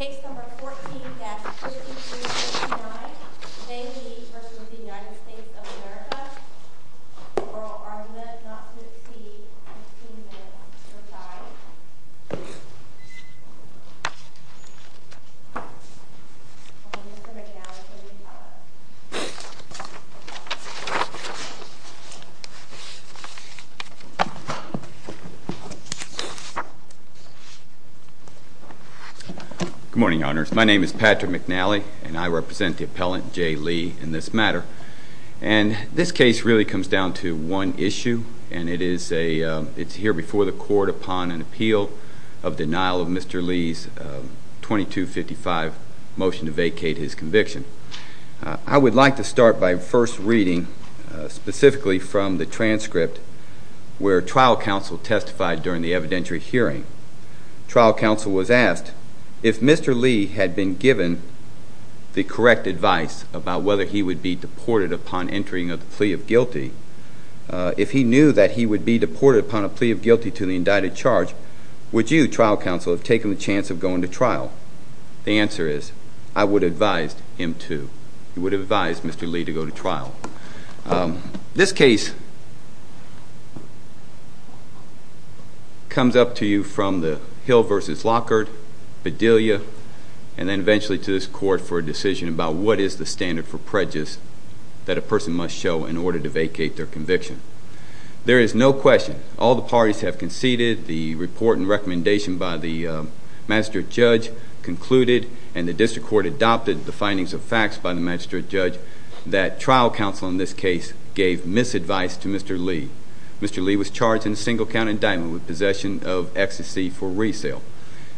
Case number 14-5369. James Lee v. United States of America. Oral argument not to exceed 15 minutes or time. Mr. McNally, please follow up. Good morning, Your Honors. My name is Patrick McNally, and I represent the appellant, J. Lee, in this matter. And this case really comes down to one issue, and it's here before the court upon an appeal of denial of Mr. Lee's 2255 motion to vacate his conviction. I would like to start by first reading specifically from the transcript where trial counsel testified during the evidentiary hearing. Trial counsel was asked if Mr. Lee had been given the correct advice about whether he would be deported upon entering a plea of guilty, if he knew that he would be deported upon a plea of guilty to the indicted charge, would you, trial counsel, have taken the chance of going to trial? The answer is, I would advise him to. I would advise Mr. Lee to go to trial. This case comes up to you from the Hill v. Lockhart, Bedelia, and then eventually to this court for a decision about what is the standard for prejudice that a person must show in order to vacate their conviction. There is no question. All the parties have conceded. The report and recommendation by the magistrate judge concluded, and the district court adopted the findings of facts by the magistrate judge, that trial counsel in this case gave misadvice to Mr. Lee. Mr. Lee was charged in a single-count indictment with possession of ecstasy for resale.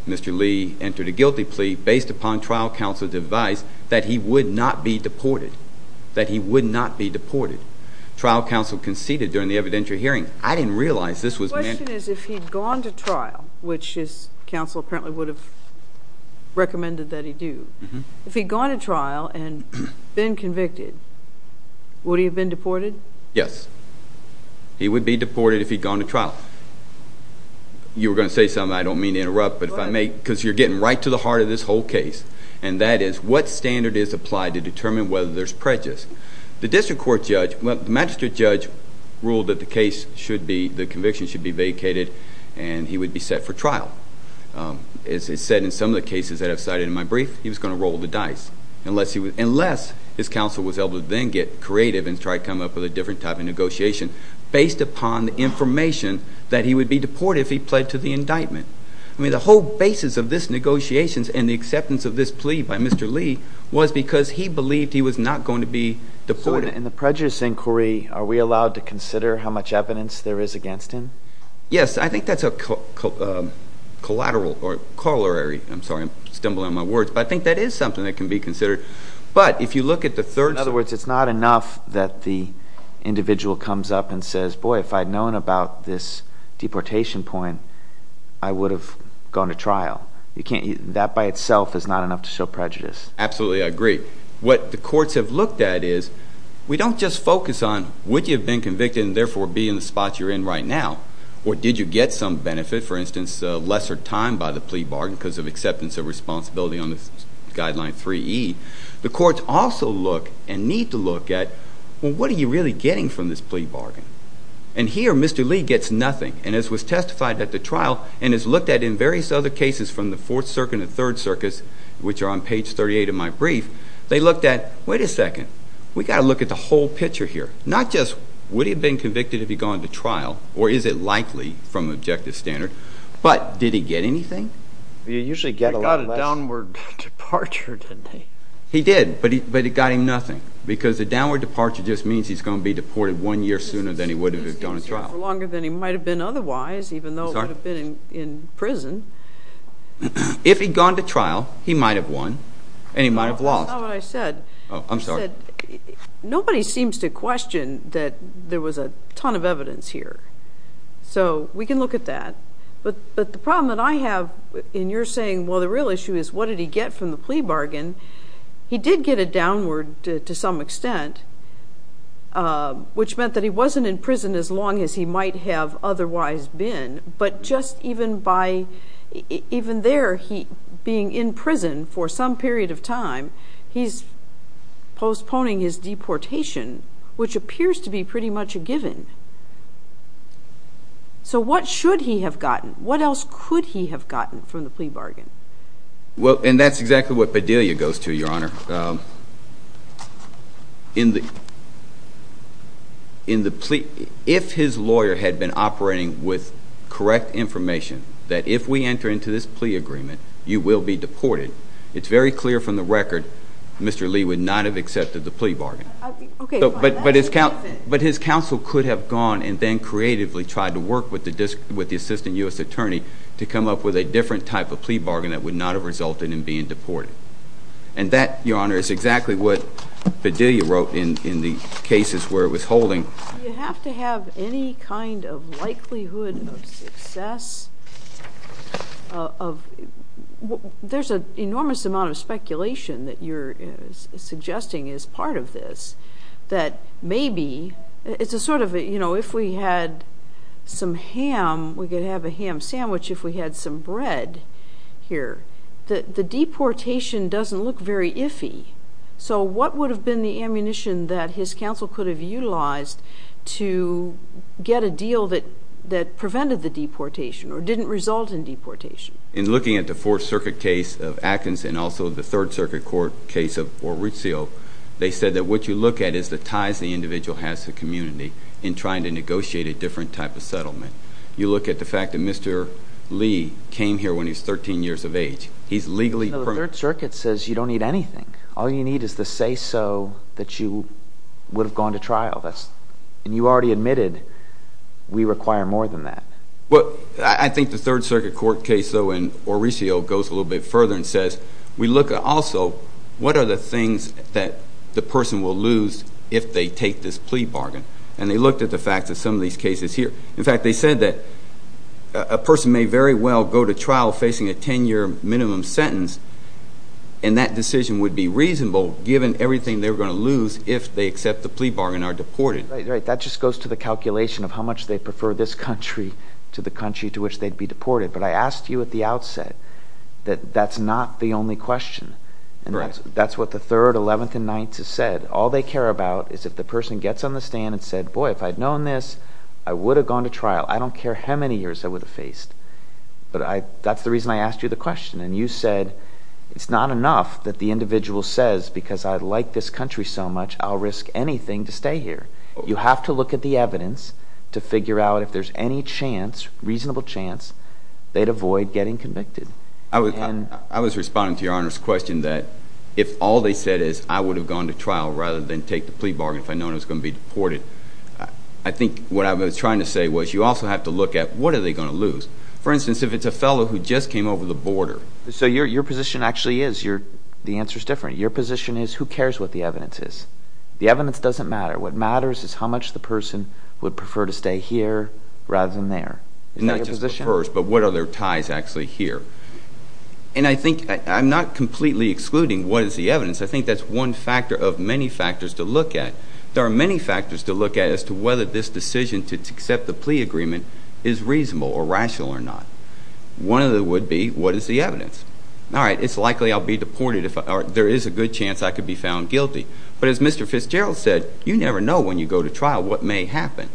Mr. Lee entered a guilty plea based upon trial counsel's advice that he would not be deported, that he would not be deported. Trial counsel conceded during the evidentiary hearing. I didn't realize this was meant. The question is if he had gone to trial, which his counsel apparently would have recommended that he do, if he had gone to trial and been convicted, would he have been deported? Yes. He would be deported if he had gone to trial. You were going to say something. I don't mean to interrupt, because you're getting right to the heart of this whole case, and that is what standard is applied to determine whether there's prejudice. The magistrate judge ruled that the conviction should be vacated and he would be set for trial. As is said in some of the cases that I've cited in my brief, he was going to roll the dice, unless his counsel was able to then get creative and try to come up with a different type of negotiation based upon the information that he would be deported if he pled to the indictment. I mean, the whole basis of this negotiations and the acceptance of this plea by Mr. Lee was because he believed he was not going to be deported. In the prejudice inquiry, are we allowed to consider how much evidence there is against him? Yes. I think that's a collateral or corollary. I'm sorry. I'm stumbling on my words. But I think that is something that can be considered. But if you look at the third side. In other words, it's not enough that the individual comes up and says, boy, if I'd known about this deportation point, I would have gone to trial. That by itself is not enough to show prejudice. Absolutely. I agree. What the courts have looked at is we don't just focus on would you have been convicted and therefore be in the spot you're in right now, or did you get some benefit, for instance, lesser time by the plea bargain because of acceptance of responsibility on this guideline 3E. The courts also look and need to look at, well, what are you really getting from this plea bargain? And here Mr. Lee gets nothing, and as was testified at the trial and as looked at in various other cases from the Fourth Circuit and the Third Circus, which are on page 38 of my brief, they looked at, wait a second, we've got to look at the whole picture here. Not just would he have been convicted if he'd gone to trial, or is it likely from the objective standard, but did he get anything? He got a downward departure, didn't he? He did, but it got him nothing, because a downward departure just means he's going to be deported one year sooner than he would have if he'd gone to trial. Longer than he might have been otherwise, even though he would have been in prison. If he'd gone to trial, he might have won and he might have lost. That's not what I said. I'm sorry. Nobody seems to question that there was a ton of evidence here, so we can look at that. But the problem that I have in your saying, well, the real issue is, what did he get from the plea bargain? He did get a downward to some extent, which meant that he wasn't in prison as long as he might have otherwise been, He's postponing his deportation, which appears to be pretty much a given. So what should he have gotten? What else could he have gotten from the plea bargain? Well, and that's exactly what Padilla goes to, Your Honor. If his lawyer had been operating with correct information, that if we enter into this plea agreement, you will be deported, it's very clear from the record Mr. Lee would not have accepted the plea bargain. But his counsel could have gone and then creatively tried to work with the assistant U.S. attorney to come up with a different type of plea bargain that would not have resulted in being deported. And that, Your Honor, is exactly what Padilla wrote in the cases where it was holding. Do you have to have any kind of likelihood of success? There's an enormous amount of speculation that you're suggesting is part of this, that maybe it's a sort of, you know, if we had some ham, we could have a ham sandwich if we had some bread here. The deportation doesn't look very iffy. So what would have been the ammunition that his counsel could have utilized to get a deal that prevented the deportation or didn't result in deportation? In looking at the Fourth Circuit case of Atkins and also the Third Circuit court case of Orucio, they said that what you look at is the ties the individual has to the community in trying to negotiate a different type of settlement. You look at the fact that Mr. Lee came here when he was 13 years of age. He's legally permitted. The Third Circuit says you don't need anything. All you need is the say-so that you would have gone to trial. And you already admitted we require more than that. Well, I think the Third Circuit court case, though, in Orucio goes a little bit further and says we look also what are the things that the person will lose if they take this plea bargain. And they looked at the fact that some of these cases here. In fact, they said that a person may very well go to trial facing a 10-year minimum sentence, and that decision would be reasonable given everything they're going to lose if they accept the plea bargain and are deported. Right, right. That just goes to the calculation of how much they prefer this country to the country to which they'd be deported. But I asked you at the outset that that's not the only question. And that's what the Third, Eleventh, and Ninth have said. All they care about is if the person gets on the stand and said, boy, if I'd known this, I would have gone to trial. I don't care how many years I would have faced. But that's the reason I asked you the question. And you said it's not enough that the individual says because I like this country so much, I'll risk anything to stay here. You have to look at the evidence to figure out if there's any chance, reasonable chance, they'd avoid getting convicted. I was responding to Your Honor's question that if all they said is I would have gone to trial rather than take the plea bargain if I'd known I was going to be deported, I think what I was trying to say was you also have to look at what are they going to lose. For instance, if it's a fellow who just came over the border. So your position actually is, the answer is different. Your position is who cares what the evidence is. The evidence doesn't matter. What matters is how much the person would prefer to stay here rather than there. Not just prefers, but what are their ties actually here. And I think I'm not completely excluding what is the evidence. I think that's one factor of many factors to look at. There are many factors to look at as to whether this decision to accept the plea agreement is reasonable or rational or not. One of them would be what is the evidence. All right, it's likely I'll be deported if there is a good chance I could be found guilty. But as Mr. Fitzgerald said, you never know when you go to trial what may happen.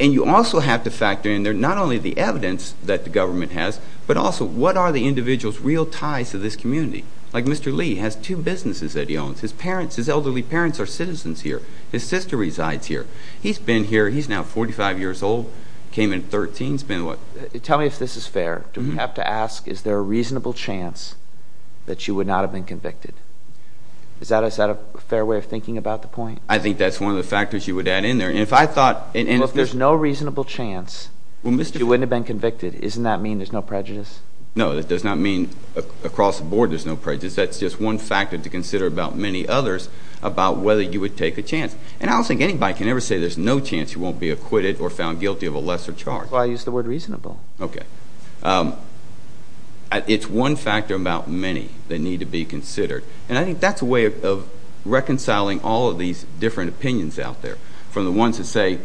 And you also have to factor in there not only the evidence that the government has, but also what are the individual's real ties to this community. Like Mr. Lee has two businesses that he owns. His parents, his elderly parents are citizens here. His sister resides here. He's been here. He's now 45 years old. Came in at 13. He's been what? Tell me if this is fair. Do we have to ask is there a reasonable chance that you would not have been convicted? Is that a fair way of thinking about the point? I think that's one of the factors you would add in there. Well, if there's no reasonable chance that you wouldn't have been convicted, doesn't that mean there's no prejudice? No, that does not mean across the board there's no prejudice. That's just one factor to consider about many others about whether you would take a chance. And I don't think anybody can ever say there's no chance you won't be acquitted or found guilty of a lesser charge. Well, I use the word reasonable. Okay. It's one factor about many that need to be considered. And I think that's a way of reconciling all of these different opinions out there. From the ones that say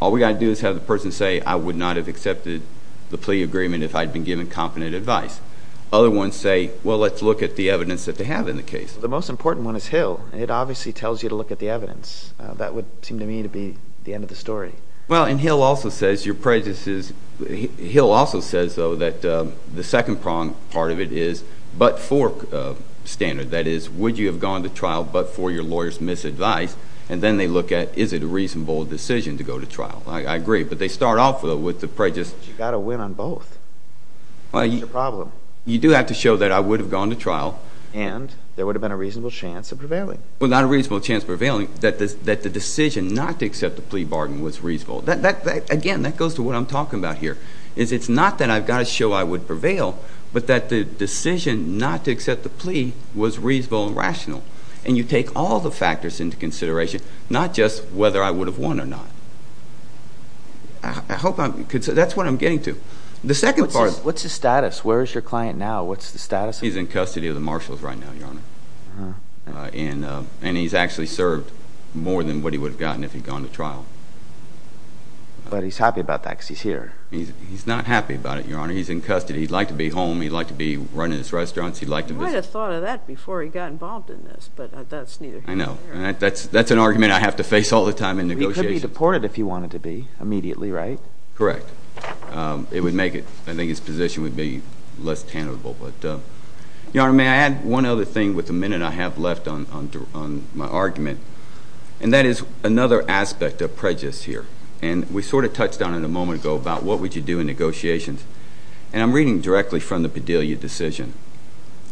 all we've got to do is have the person say I would not have accepted the plea agreement if I'd been given competent advice. Other ones say, well, let's look at the evidence that they have in the case. The most important one is Hill. And it obviously tells you to look at the evidence. That would seem to me to be the end of the story. Well, and Hill also says your prejudice is Hill also says, though, that the second part of it is but for standard. That is, would you have gone to trial but for your lawyer's misadvice? And then they look at is it a reasonable decision to go to trial. I agree, but they start off, though, with the prejudice. But you've got to win on both. You do have to show that I would have gone to trial. And there would have been a reasonable chance of prevailing. Well, not a reasonable chance of prevailing, that the decision not to accept the plea bargain was reasonable. Again, that goes to what I'm talking about here. It's not that I've got to show I would prevail, but that the decision not to accept the plea was reasonable and rational. And you take all the factors into consideration, not just whether I would have won or not. That's what I'm getting to. What's his status? Where is your client now? What's the status of him? He's in custody of the marshals right now, Your Honor. And he's actually served more than what he would have gotten if he'd gone to trial. But he's happy about that because he's here. He's not happy about it, Your Honor. He's in custody. He'd like to be home. He'd like to be running his restaurants. I would have thought of that before he got involved in this, but that's neither here nor there. I know. That's an argument I have to face all the time in negotiations. He could be deported if he wanted to be immediately, right? Correct. I think his position would be less tenable. Your Honor, may I add one other thing with the minute I have left on my argument? And that is another aspect of prejudice here. And we sort of touched on it a moment ago about what would you do in negotiations. And I'm reading directly from the Bedelia decision.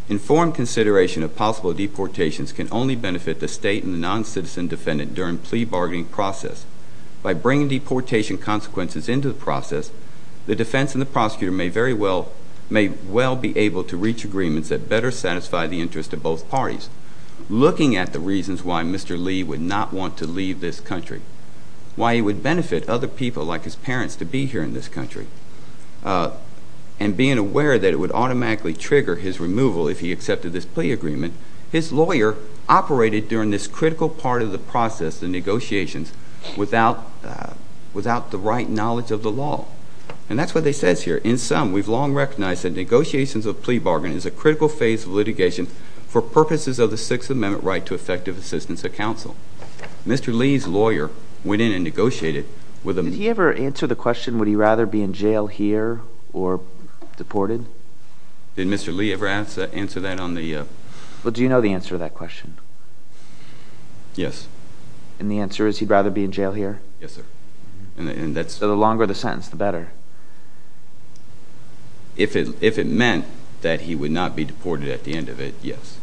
Informed consideration of possible deportations can only benefit the state and the non-citizen defendant during plea bargaining process. By bringing deportation consequences into the process, the defense and the prosecutor may very well be able to reach agreements that better satisfy the interests of both parties. Looking at the reasons why Mr. Lee would not want to leave this country, why he would benefit other people like his parents to be here in this country, and being aware that it would automatically trigger his removal if he accepted this plea agreement, his lawyer operated during this critical part of the process, the negotiations, without the right knowledge of the law. And that's what it says here. In sum, we've long recognized that negotiations of plea bargaining is a critical phase of litigation for purposes of the Sixth Amendment right to effective assistance of counsel. Mr. Lee's lawyer went in and negotiated with him. Did he ever answer the question, would he rather be in jail here or deported? Did Mr. Lee ever answer that on the? Well, do you know the answer to that question? Yes. And the answer is he'd rather be in jail here? Yes, sir. The longer the sentence, the better. If it meant that he would not be deported at the end of it, yes.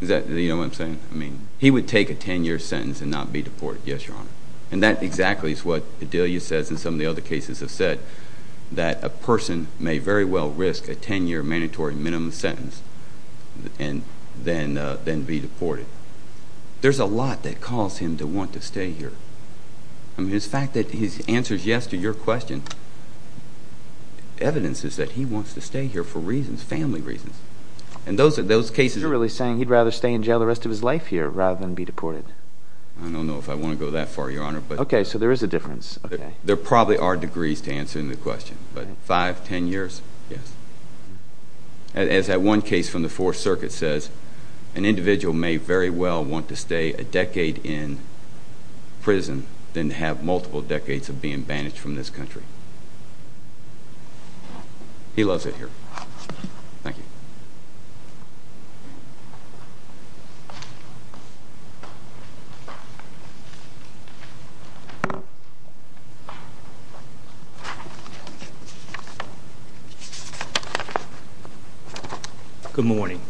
Do you know what I'm saying? He would take a 10-year sentence and not be deported. Yes, Your Honor. And that exactly is what Adelia says and some of the other cases have said, that a person may very well risk a 10-year mandatory minimum sentence and then be deported. There's a lot that caused him to want to stay here. I mean, the fact that his answer is yes to your question, evidence is that he wants to stay here for reasons, family reasons. And those cases are really saying he'd rather stay in jail the rest of his life here rather than be deported. I don't know if I want to go that far, Your Honor. Okay, so there is a difference. There probably are degrees to answering the question, but five, ten years, yes. As that one case from the Fourth Circuit says, an individual may very well want to stay a decade in prison than to have multiple decades of being banished from this country. He loves it here. Thank you. Good morning.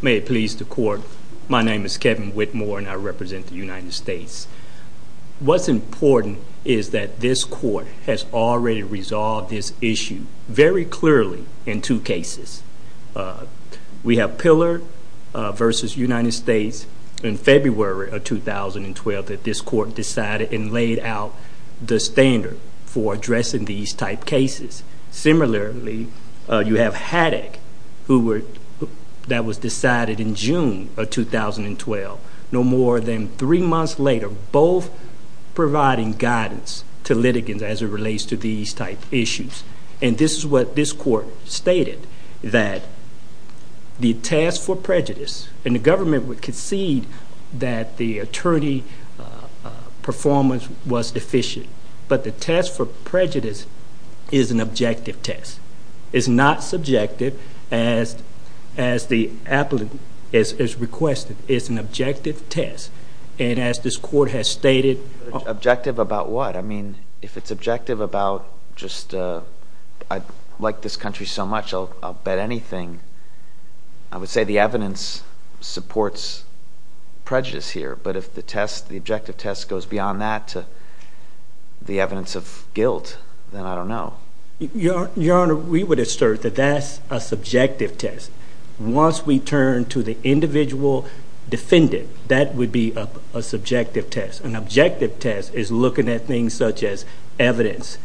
May it please the Court, my name is Kevin Whitmore and I represent the United States. What's important is that this Court has already resolved this issue very clearly in two cases. We have Pillar versus United States in February of 2012 that this Court decided and laid out the standard for addressing these type cases. Similarly, you have Haddock that was decided in June of 2012. No more than three months later, both providing guidance to litigants as it relates to these type issues. And this is what this Court stated, that the task for prejudice, and the government would concede that the attorney performance was deficient, but the test for prejudice is an objective test. It's not subjective as the applicant has requested. It's an objective test. And as this Court has stated... Objective about what? I mean, if it's objective about just, I like this country so much I'll bet anything. I would say the evidence supports prejudice here, but if the objective test goes beyond that to the evidence of guilt, then I don't know. Your Honor, we would assert that that's a subjective test. Once we turn to the individual defendant, that would be a subjective test. An objective test is looking at things such as evidence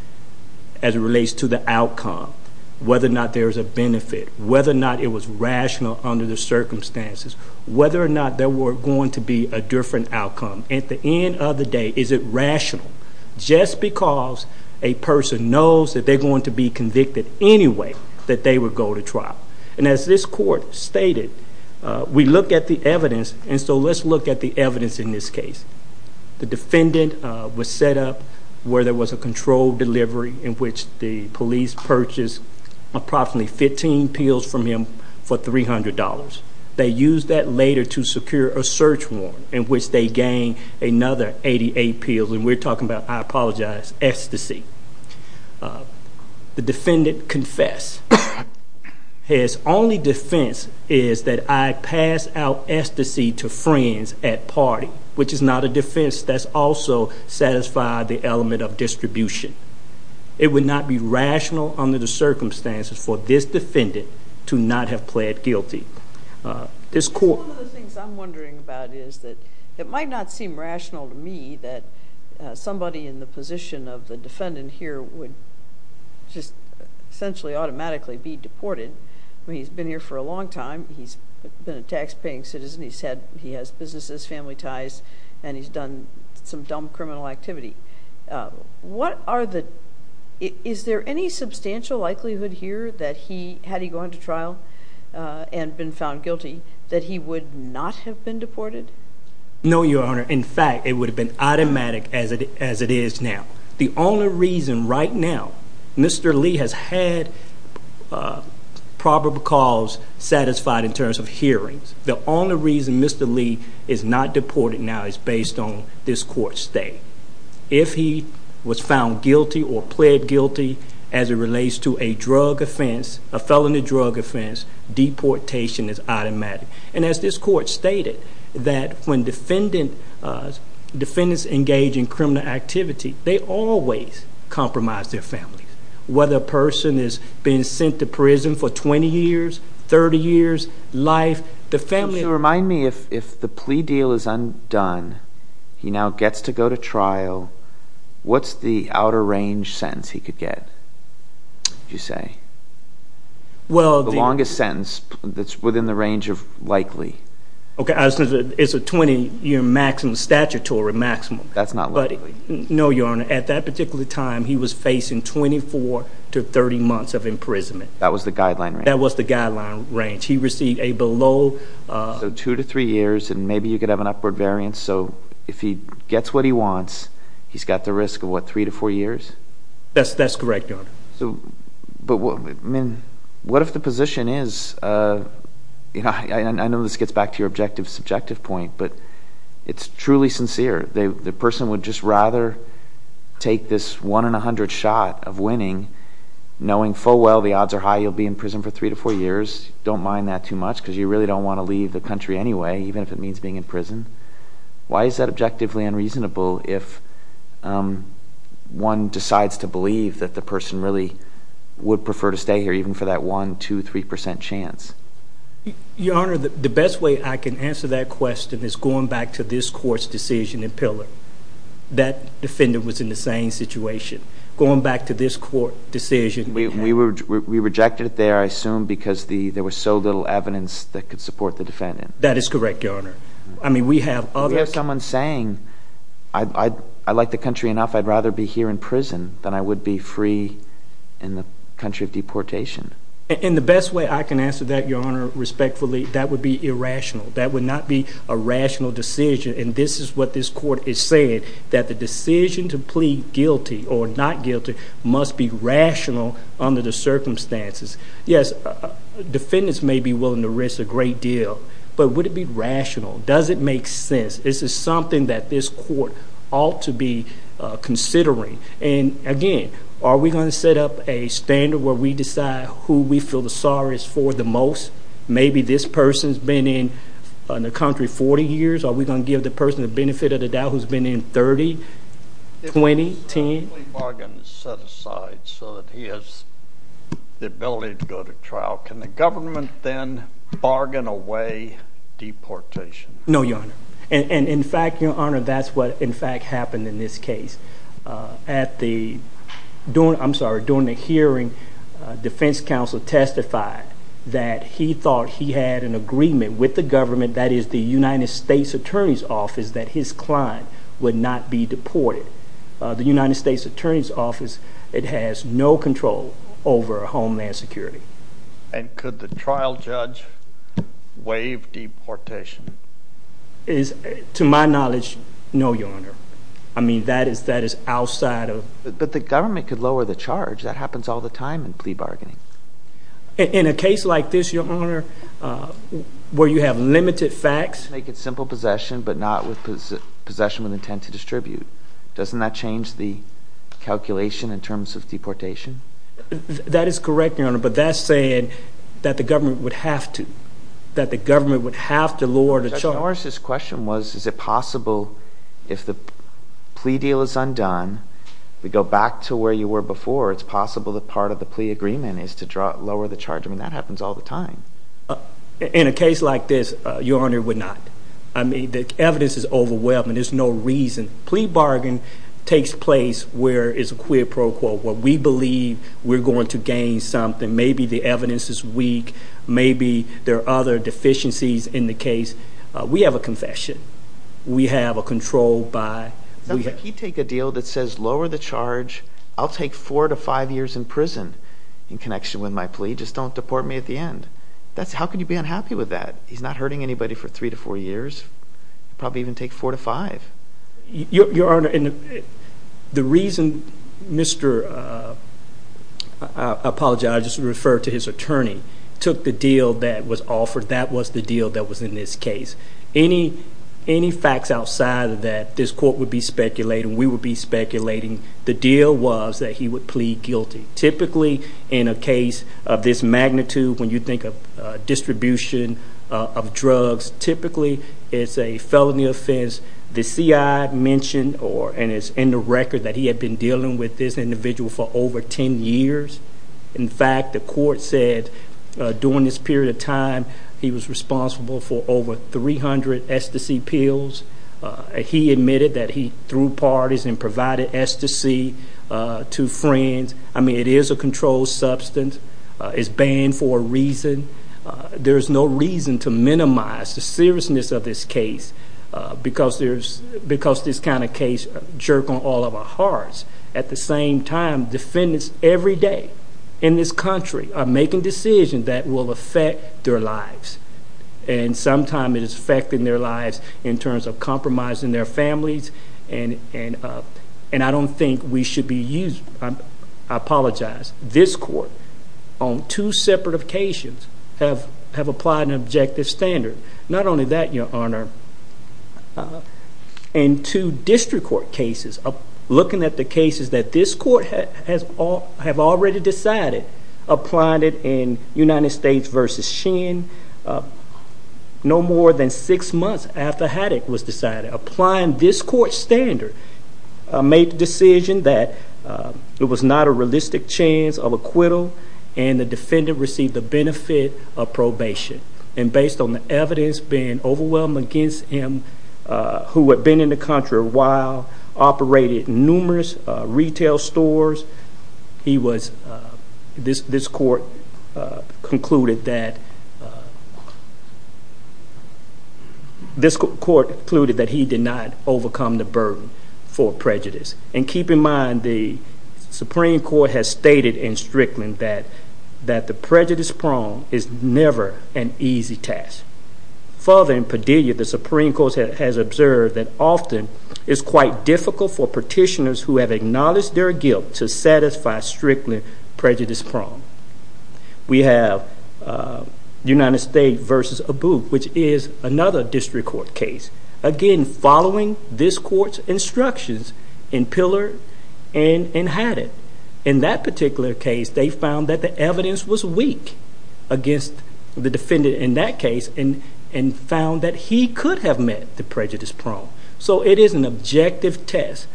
as it relates to the outcome, whether or not there is a benefit, whether or not it was rational under the circumstances, whether or not there were going to be a different outcome. At the end of the day, is it rational? Just because a person knows that they're going to be convicted anyway, that they would go to trial. And as this Court stated, we look at the evidence, and so let's look at the evidence in this case. The defendant was set up where there was a controlled delivery in which the police purchased approximately 15 pills from him for $300. They used that later to secure a search warrant in which they gained another 88 pills. And we're talking about, I apologize, ecstasy. The defendant confessed. His only defense is that I passed out ecstasy to friends at party, which is not a defense that's also satisfied the element of distribution. It would not be rational under the circumstances for this defendant to not have pled guilty. One of the things I'm wondering about is that it might not seem rational to me that somebody in the position of the defendant here would just essentially automatically be deported. I mean, he's been here for a long time. He's been a taxpaying citizen. He has businesses, family ties, and he's done some dumb criminal activity. Is there any substantial likelihood here that had he gone to trial and been found guilty that he would not have been deported? No, Your Honor. In fact, it would have been automatic as it is now. The only reason right now Mr. Lee has had probable cause satisfied in terms of hearings, the only reason Mr. Lee is not deported now is based on this court's state. If he was found guilty or pled guilty as it relates to a drug offense, a felony drug offense, deportation is automatic. And as this court stated, that when defendants engage in criminal activity, they always compromise their families. Whether a person is being sent to prison for 20 years, 30 years, life, the family. Would you remind me if the plea deal is undone, he now gets to go to trial, what's the outer range sentence he could get, you say? The longest sentence that's within the range of likely. Okay, it's a 20-year maximum, statutory maximum. That's not likely. No, Your Honor. At that particular time, he was facing 24 to 30 months of imprisonment. That was the guideline range? That was the guideline range. He received a below... So two to three years, and maybe you could have an upward variance. So if he gets what he wants, he's got the risk of what, three to four years? That's correct, Your Honor. But what if the position is, I know this gets back to your objective subjective point, but it's truly sincere. The person would just rather take this one in a hundred shot of winning, knowing full well the odds are high you'll be in prison for three to four years. Don't mind that too much because you really don't want to leave the country anyway, even if it means being in prison. Why is that objectively unreasonable if one decides to believe that the person really would prefer to stay here, even for that one, two, three percent chance? Your Honor, the best way I can answer that question is going back to this court's decision in Pillar. That defendant was in the same situation. Going back to this court decision... We rejected it there, I assume, because there was so little evidence that could support the defendant. That is correct, Your Honor. I mean, we have other... We have someone saying, I like the country enough, I'd rather be here in prison than I would be free in the country of deportation. And the best way I can answer that, Your Honor, respectfully, that would be irrational. That would not be a rational decision, and this is what this court is saying, that the decision to plead guilty or not guilty must be rational under the circumstances. Yes, defendants may be willing to risk a great deal, but would it be rational? Does it make sense? This is something that this court ought to be considering. And again, are we going to set up a standard where we decide who we feel the sorrows for the most? Maybe this person's been in the country 40 years. Are we going to give the person the benefit of the doubt who's been in 30, 20, 10? If the plea bargain is set aside so that he has the ability to go to trial, can the government then bargain away deportation? No, Your Honor. And, in fact, Your Honor, that's what, in fact, happened in this case. During the hearing, defense counsel testified that he thought he had an agreement with the government, that is, the United States Attorney's Office, that his client would not be deported. The United States Attorney's Office, it has no control over Homeland Security. And could the trial judge waive deportation? To my knowledge, no, Your Honor. I mean, that is outside of— But the government could lower the charge. That happens all the time in plea bargaining. In a case like this, Your Honor, where you have limited facts— but not with possession with intent to distribute. Doesn't that change the calculation in terms of deportation? That is correct, Your Honor, but that's saying that the government would have to lower the charge. Judge Norris' question was, is it possible if the plea deal is undone, we go back to where you were before, it's possible that part of the plea agreement is to lower the charge? I mean, that happens all the time. In a case like this, Your Honor, it would not. I mean, the evidence is overwhelming. There's no reason. Plea bargain takes place where it's a quid pro quo, where we believe we're going to gain something. Maybe the evidence is weak. Maybe there are other deficiencies in the case. We have a confession. We have a control by— If you take a deal that says lower the charge, I'll take four to five years in prison in connection with my plea. Just don't deport me at the end. How could you be unhappy with that? He's not hurting anybody for three to four years. It would probably even take four to five. Your Honor, the reason Mr.—I apologize. I'll just refer to his attorney. He took the deal that was offered. That was the deal that was in this case. Any facts outside of that, this court would be speculating, we would be speculating. The deal was that he would plead guilty. Typically, in a case of this magnitude, when you think of distribution of drugs, typically it's a felony offense. The C.I. mentioned and it's in the record that he had been dealing with this individual for over 10 years. In fact, the court said during this period of time he was responsible for over 300 STC pills. He admitted that he threw parties and provided STC to friends. I mean, it is a controlled substance. It's banned for a reason. There's no reason to minimize the seriousness of this case because this kind of case jerks on all of our hearts. At the same time, defendants every day in this country are making decisions that will affect their lives. And sometimes it is affecting their lives in terms of compromising their families. And I don't think we should be used. I apologize. This court, on two separate occasions, have applied an objective standard. Not only that, Your Honor, in two district court cases, looking at the cases that this court have already decided, applied it in United States v. Shen, no more than six months after Haddock was decided. Applying this court standard made the decision that it was not a realistic chance of acquittal and the defendant received the benefit of probation. And based on the evidence being overwhelmed against him, who had been in the country a while, operated numerous retail stores, this court concluded that he did not overcome the burden for prejudice. And keep in mind the Supreme Court has stated in Strickland that the prejudice prone is never an easy task. Further, in Padilla, the Supreme Court has observed that often it is quite difficult for petitioners who have acknowledged their guilt to satisfy strictly prejudice prone. We have United States v. Abu, which is another district court case. Again, following this court's instructions in Pillar and in Haddock. In that particular case, they found that the evidence was weak against the defendant in that case and found that he could have met the prejudice prone. So it is an objective test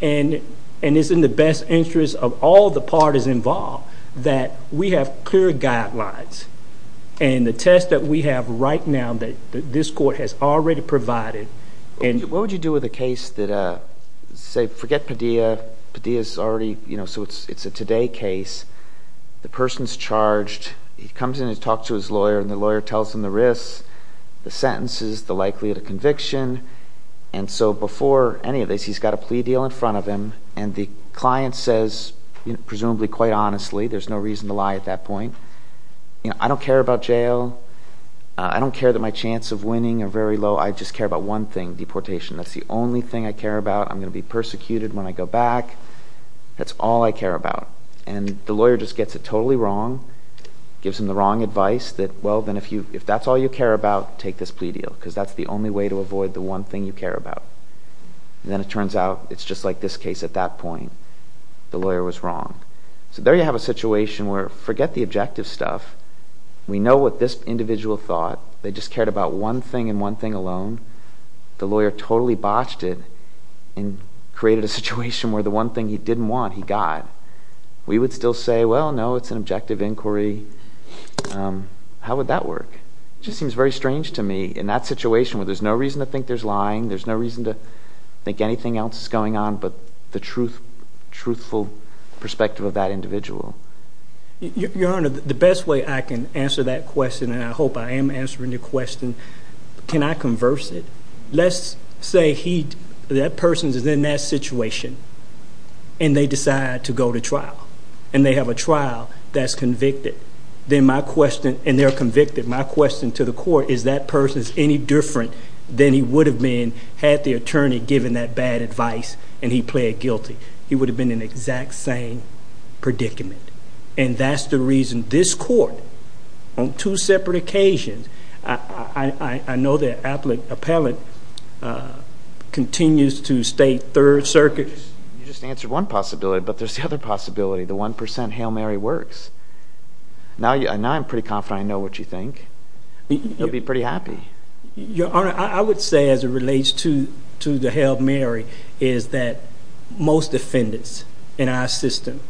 and it is in the best interest of all the parties involved that we have clear guidelines. And the test that we have right now that this court has already provided. And what would you do with a case that, say, forget Padilla. Padilla's already, you know, so it's a today case. The person's charged. He comes in and talks to his lawyer and the lawyer tells him the risks, the sentences, the likelihood of conviction. And so before any of this, he's got a plea deal in front of him and the client says, presumably quite honestly, there's no reason to lie at that point, you know, I don't care about jail. I don't care that my chance of winning are very low. I just care about one thing, deportation. That's the only thing I care about. I'm going to be persecuted when I go back. That's all I care about. And the lawyer just gets it totally wrong. Gives him the wrong advice that, well, then if that's all you care about, take this plea deal because that's the only way to avoid the one thing you care about. And then it turns out it's just like this case at that point. The lawyer was wrong. So there you have a situation where forget the objective stuff. We know what this individual thought. They just cared about one thing and one thing alone. The lawyer totally botched it and created a situation where the one thing he didn't want he got. We would still say, well, no, it's an objective inquiry. How would that work? It just seems very strange to me in that situation where there's no reason to think there's lying, there's no reason to think anything else is going on but the truthful perspective of that individual. Your Honor, the best way I can answer that question, and I hope I am answering your question, can I converse it? Let's say that person is in that situation and they decide to go to trial, and they have a trial that's convicted, and they're convicted. My question to the court is that person is any different than he would have been had the attorney given that bad advice and he pled guilty. He would have been in the exact same predicament, and that's the reason this court on two separate occasions, I know the appellate continues to state third circuit. You just answered one possibility, but there's the other possibility, the 1% Hail Mary works. Now I'm pretty confident I know what you think. You'll be pretty happy. Your Honor, I would say as it relates to the Hail Mary is that most defendants in our system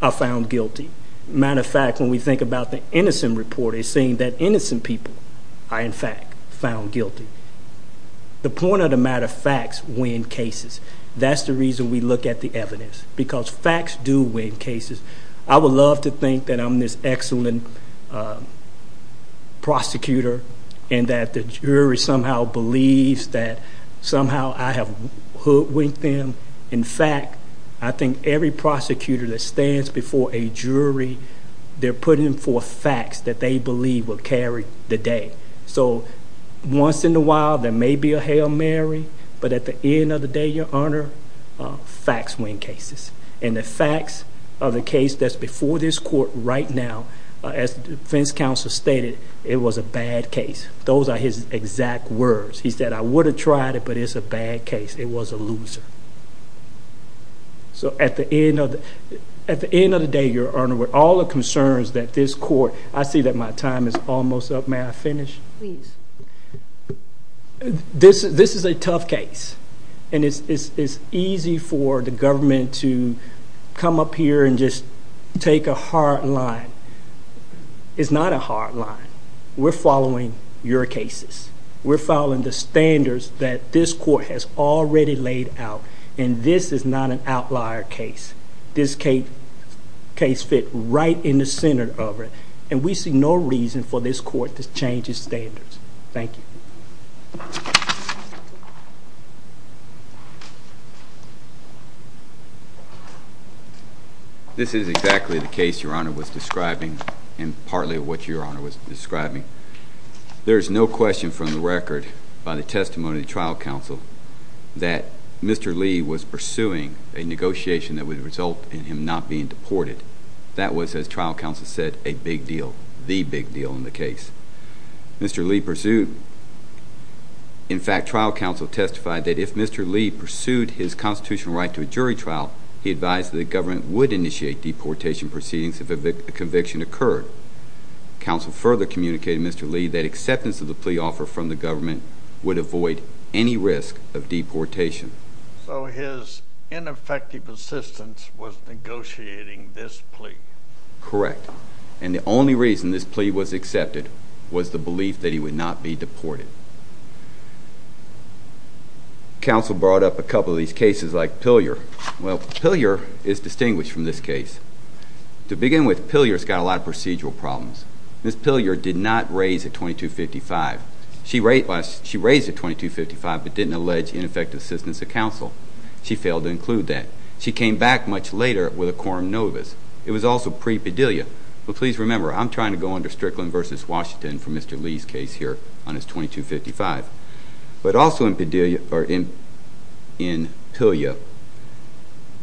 are found guilty. Matter of fact, when we think about the innocent report, it's saying that innocent people are in fact found guilty. The point of the matter of facts win cases. That's the reason we look at the evidence because facts do win cases. I would love to think that I'm this excellent prosecutor and that the jury somehow believes that somehow I have hoodwinked them. In fact, I think every prosecutor that stands before a jury, they're putting forth facts that they believe will carry the day. So once in a while there may be a Hail Mary, but at the end of the day, Your Honor, facts win cases. And the facts of the case that's before this court right now, as the defense counsel stated, it was a bad case. Those are his exact words. He said, I would have tried it, but it's a bad case. It was a loser. So at the end of the day, Your Honor, with all the concerns that this court, I see that my time is almost up. May I finish? Please. This is a tough case. And it's easy for the government to come up here and just take a hard line. It's not a hard line. We're following your cases. We're following the standards that this court has already laid out. And this is not an outlier case. This case fit right in the center of it. And we see no reason for this court to change its standards. Thank you. This is exactly the case Your Honor was describing and partly what Your Honor was describing. There is no question from the record by the testimony of the trial counsel that Mr. Lee was pursuing a negotiation that would result in him not being deported. That was, as trial counsel said, a big deal, the big deal in the case. Mr. Lee pursued. In fact, trial counsel testified that if Mr. Lee pursued his constitutional right to a jury trial, he advised that the government would initiate deportation proceedings if a conviction occurred. Counsel further communicated to Mr. Lee that acceptance of the plea offer from the government would avoid any risk of deportation. So his ineffective assistance was negotiating this plea. Correct. And the only reason this plea was accepted was the belief that he would not be deported. Counsel brought up a couple of these cases like Pilyer. Well, Pilyer is distinguished from this case. To begin with, Pilyer's got a lot of procedural problems. Ms. Pilyer did not raise a 2255. She raised a 2255 but didn't allege ineffective assistance of counsel. She failed to include that. She came back much later with a quorum novus. It was also pre-Padilla. But please remember, I'm trying to go under Strickland v. Washington for Mr. Lee's case here on his 2255. But also in Pilyer,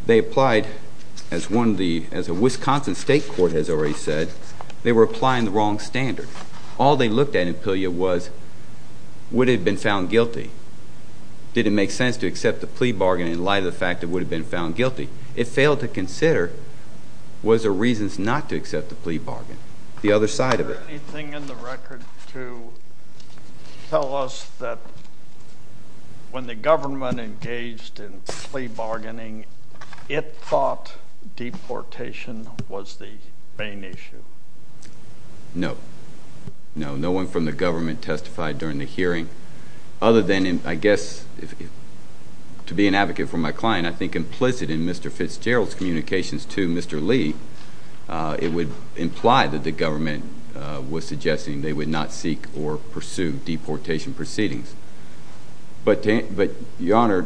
they applied, as a Wisconsin state court has already said, they were applying the wrong standard. All they looked at in Pilyer was would it have been found guilty? Did it make sense to accept the plea bargain in light of the fact it would have been found guilty? It failed to consider was there reasons not to accept the plea bargain, the other side of it. Is there anything in the record to tell us that when the government engaged in plea bargaining, it thought deportation was the main issue? No. No, no one from the government testified during the hearing other than, I guess, to be an advocate for my client, I think implicit in Mr. Fitzgerald's communications to Mr. Lee, it would imply that the government was suggesting they would not seek or pursue deportation proceedings. But, Your Honor,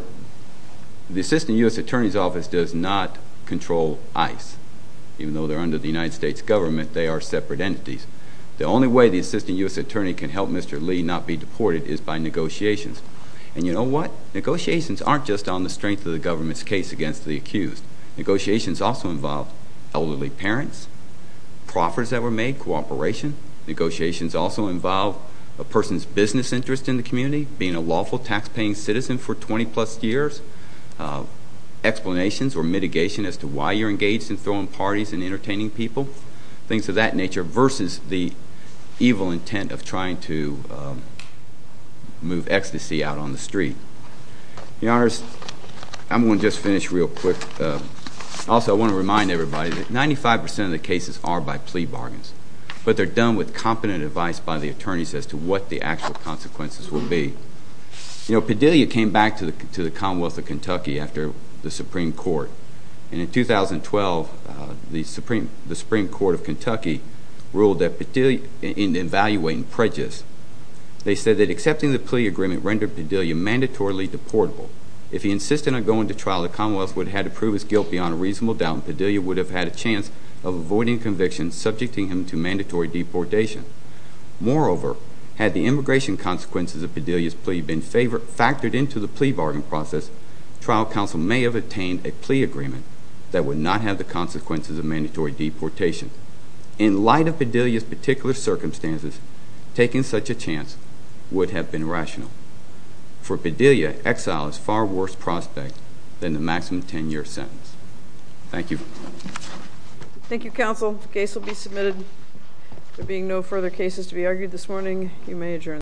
the Assistant U.S. Attorney's Office does not control ICE, even though they're under the United States government, they are separate entities. The only way the Assistant U.S. Attorney can help Mr. Lee not be deported is by negotiations. And you know what? Negotiations aren't just on the strength of the government's case against the accused. Negotiations also involve elderly parents, proffers that were made, cooperation. Negotiations also involve a person's business interest in the community, being a lawful taxpaying citizen for 20 plus years, explanations or mitigation as to why you're engaged in throwing parties and entertaining people, things of that nature versus the evil intent of trying to move ecstasy out on the street. Your Honors, I'm going to just finish real quick. Also, I want to remind everybody that 95 percent of the cases are by plea bargains, but they're done with competent advice by the attorneys as to what the actual consequences will be. You know, Padilla came back to the Commonwealth of Kentucky after the Supreme Court. And in 2012, the Supreme Court of Kentucky ruled that in evaluating prejudice, they said that accepting the plea agreement rendered Padilla mandatorily deportable. If he insisted on going to trial, the Commonwealth would have had to prove his guilt beyond a reasonable doubt, and Padilla would have had a chance of avoiding conviction, subjecting him to mandatory deportation. Moreover, had the immigration consequences of Padilla's plea been factored into the plea bargain process, trial counsel may have obtained a plea agreement that would not have the consequences of mandatory deportation. In light of Padilla's particular circumstances, taking such a chance would have been rational. For Padilla, exile is a far worse prospect than the maximum 10-year sentence. Thank you. Thank you, counsel. The case will be submitted. There being no further cases to be argued this morning, you may adjourn.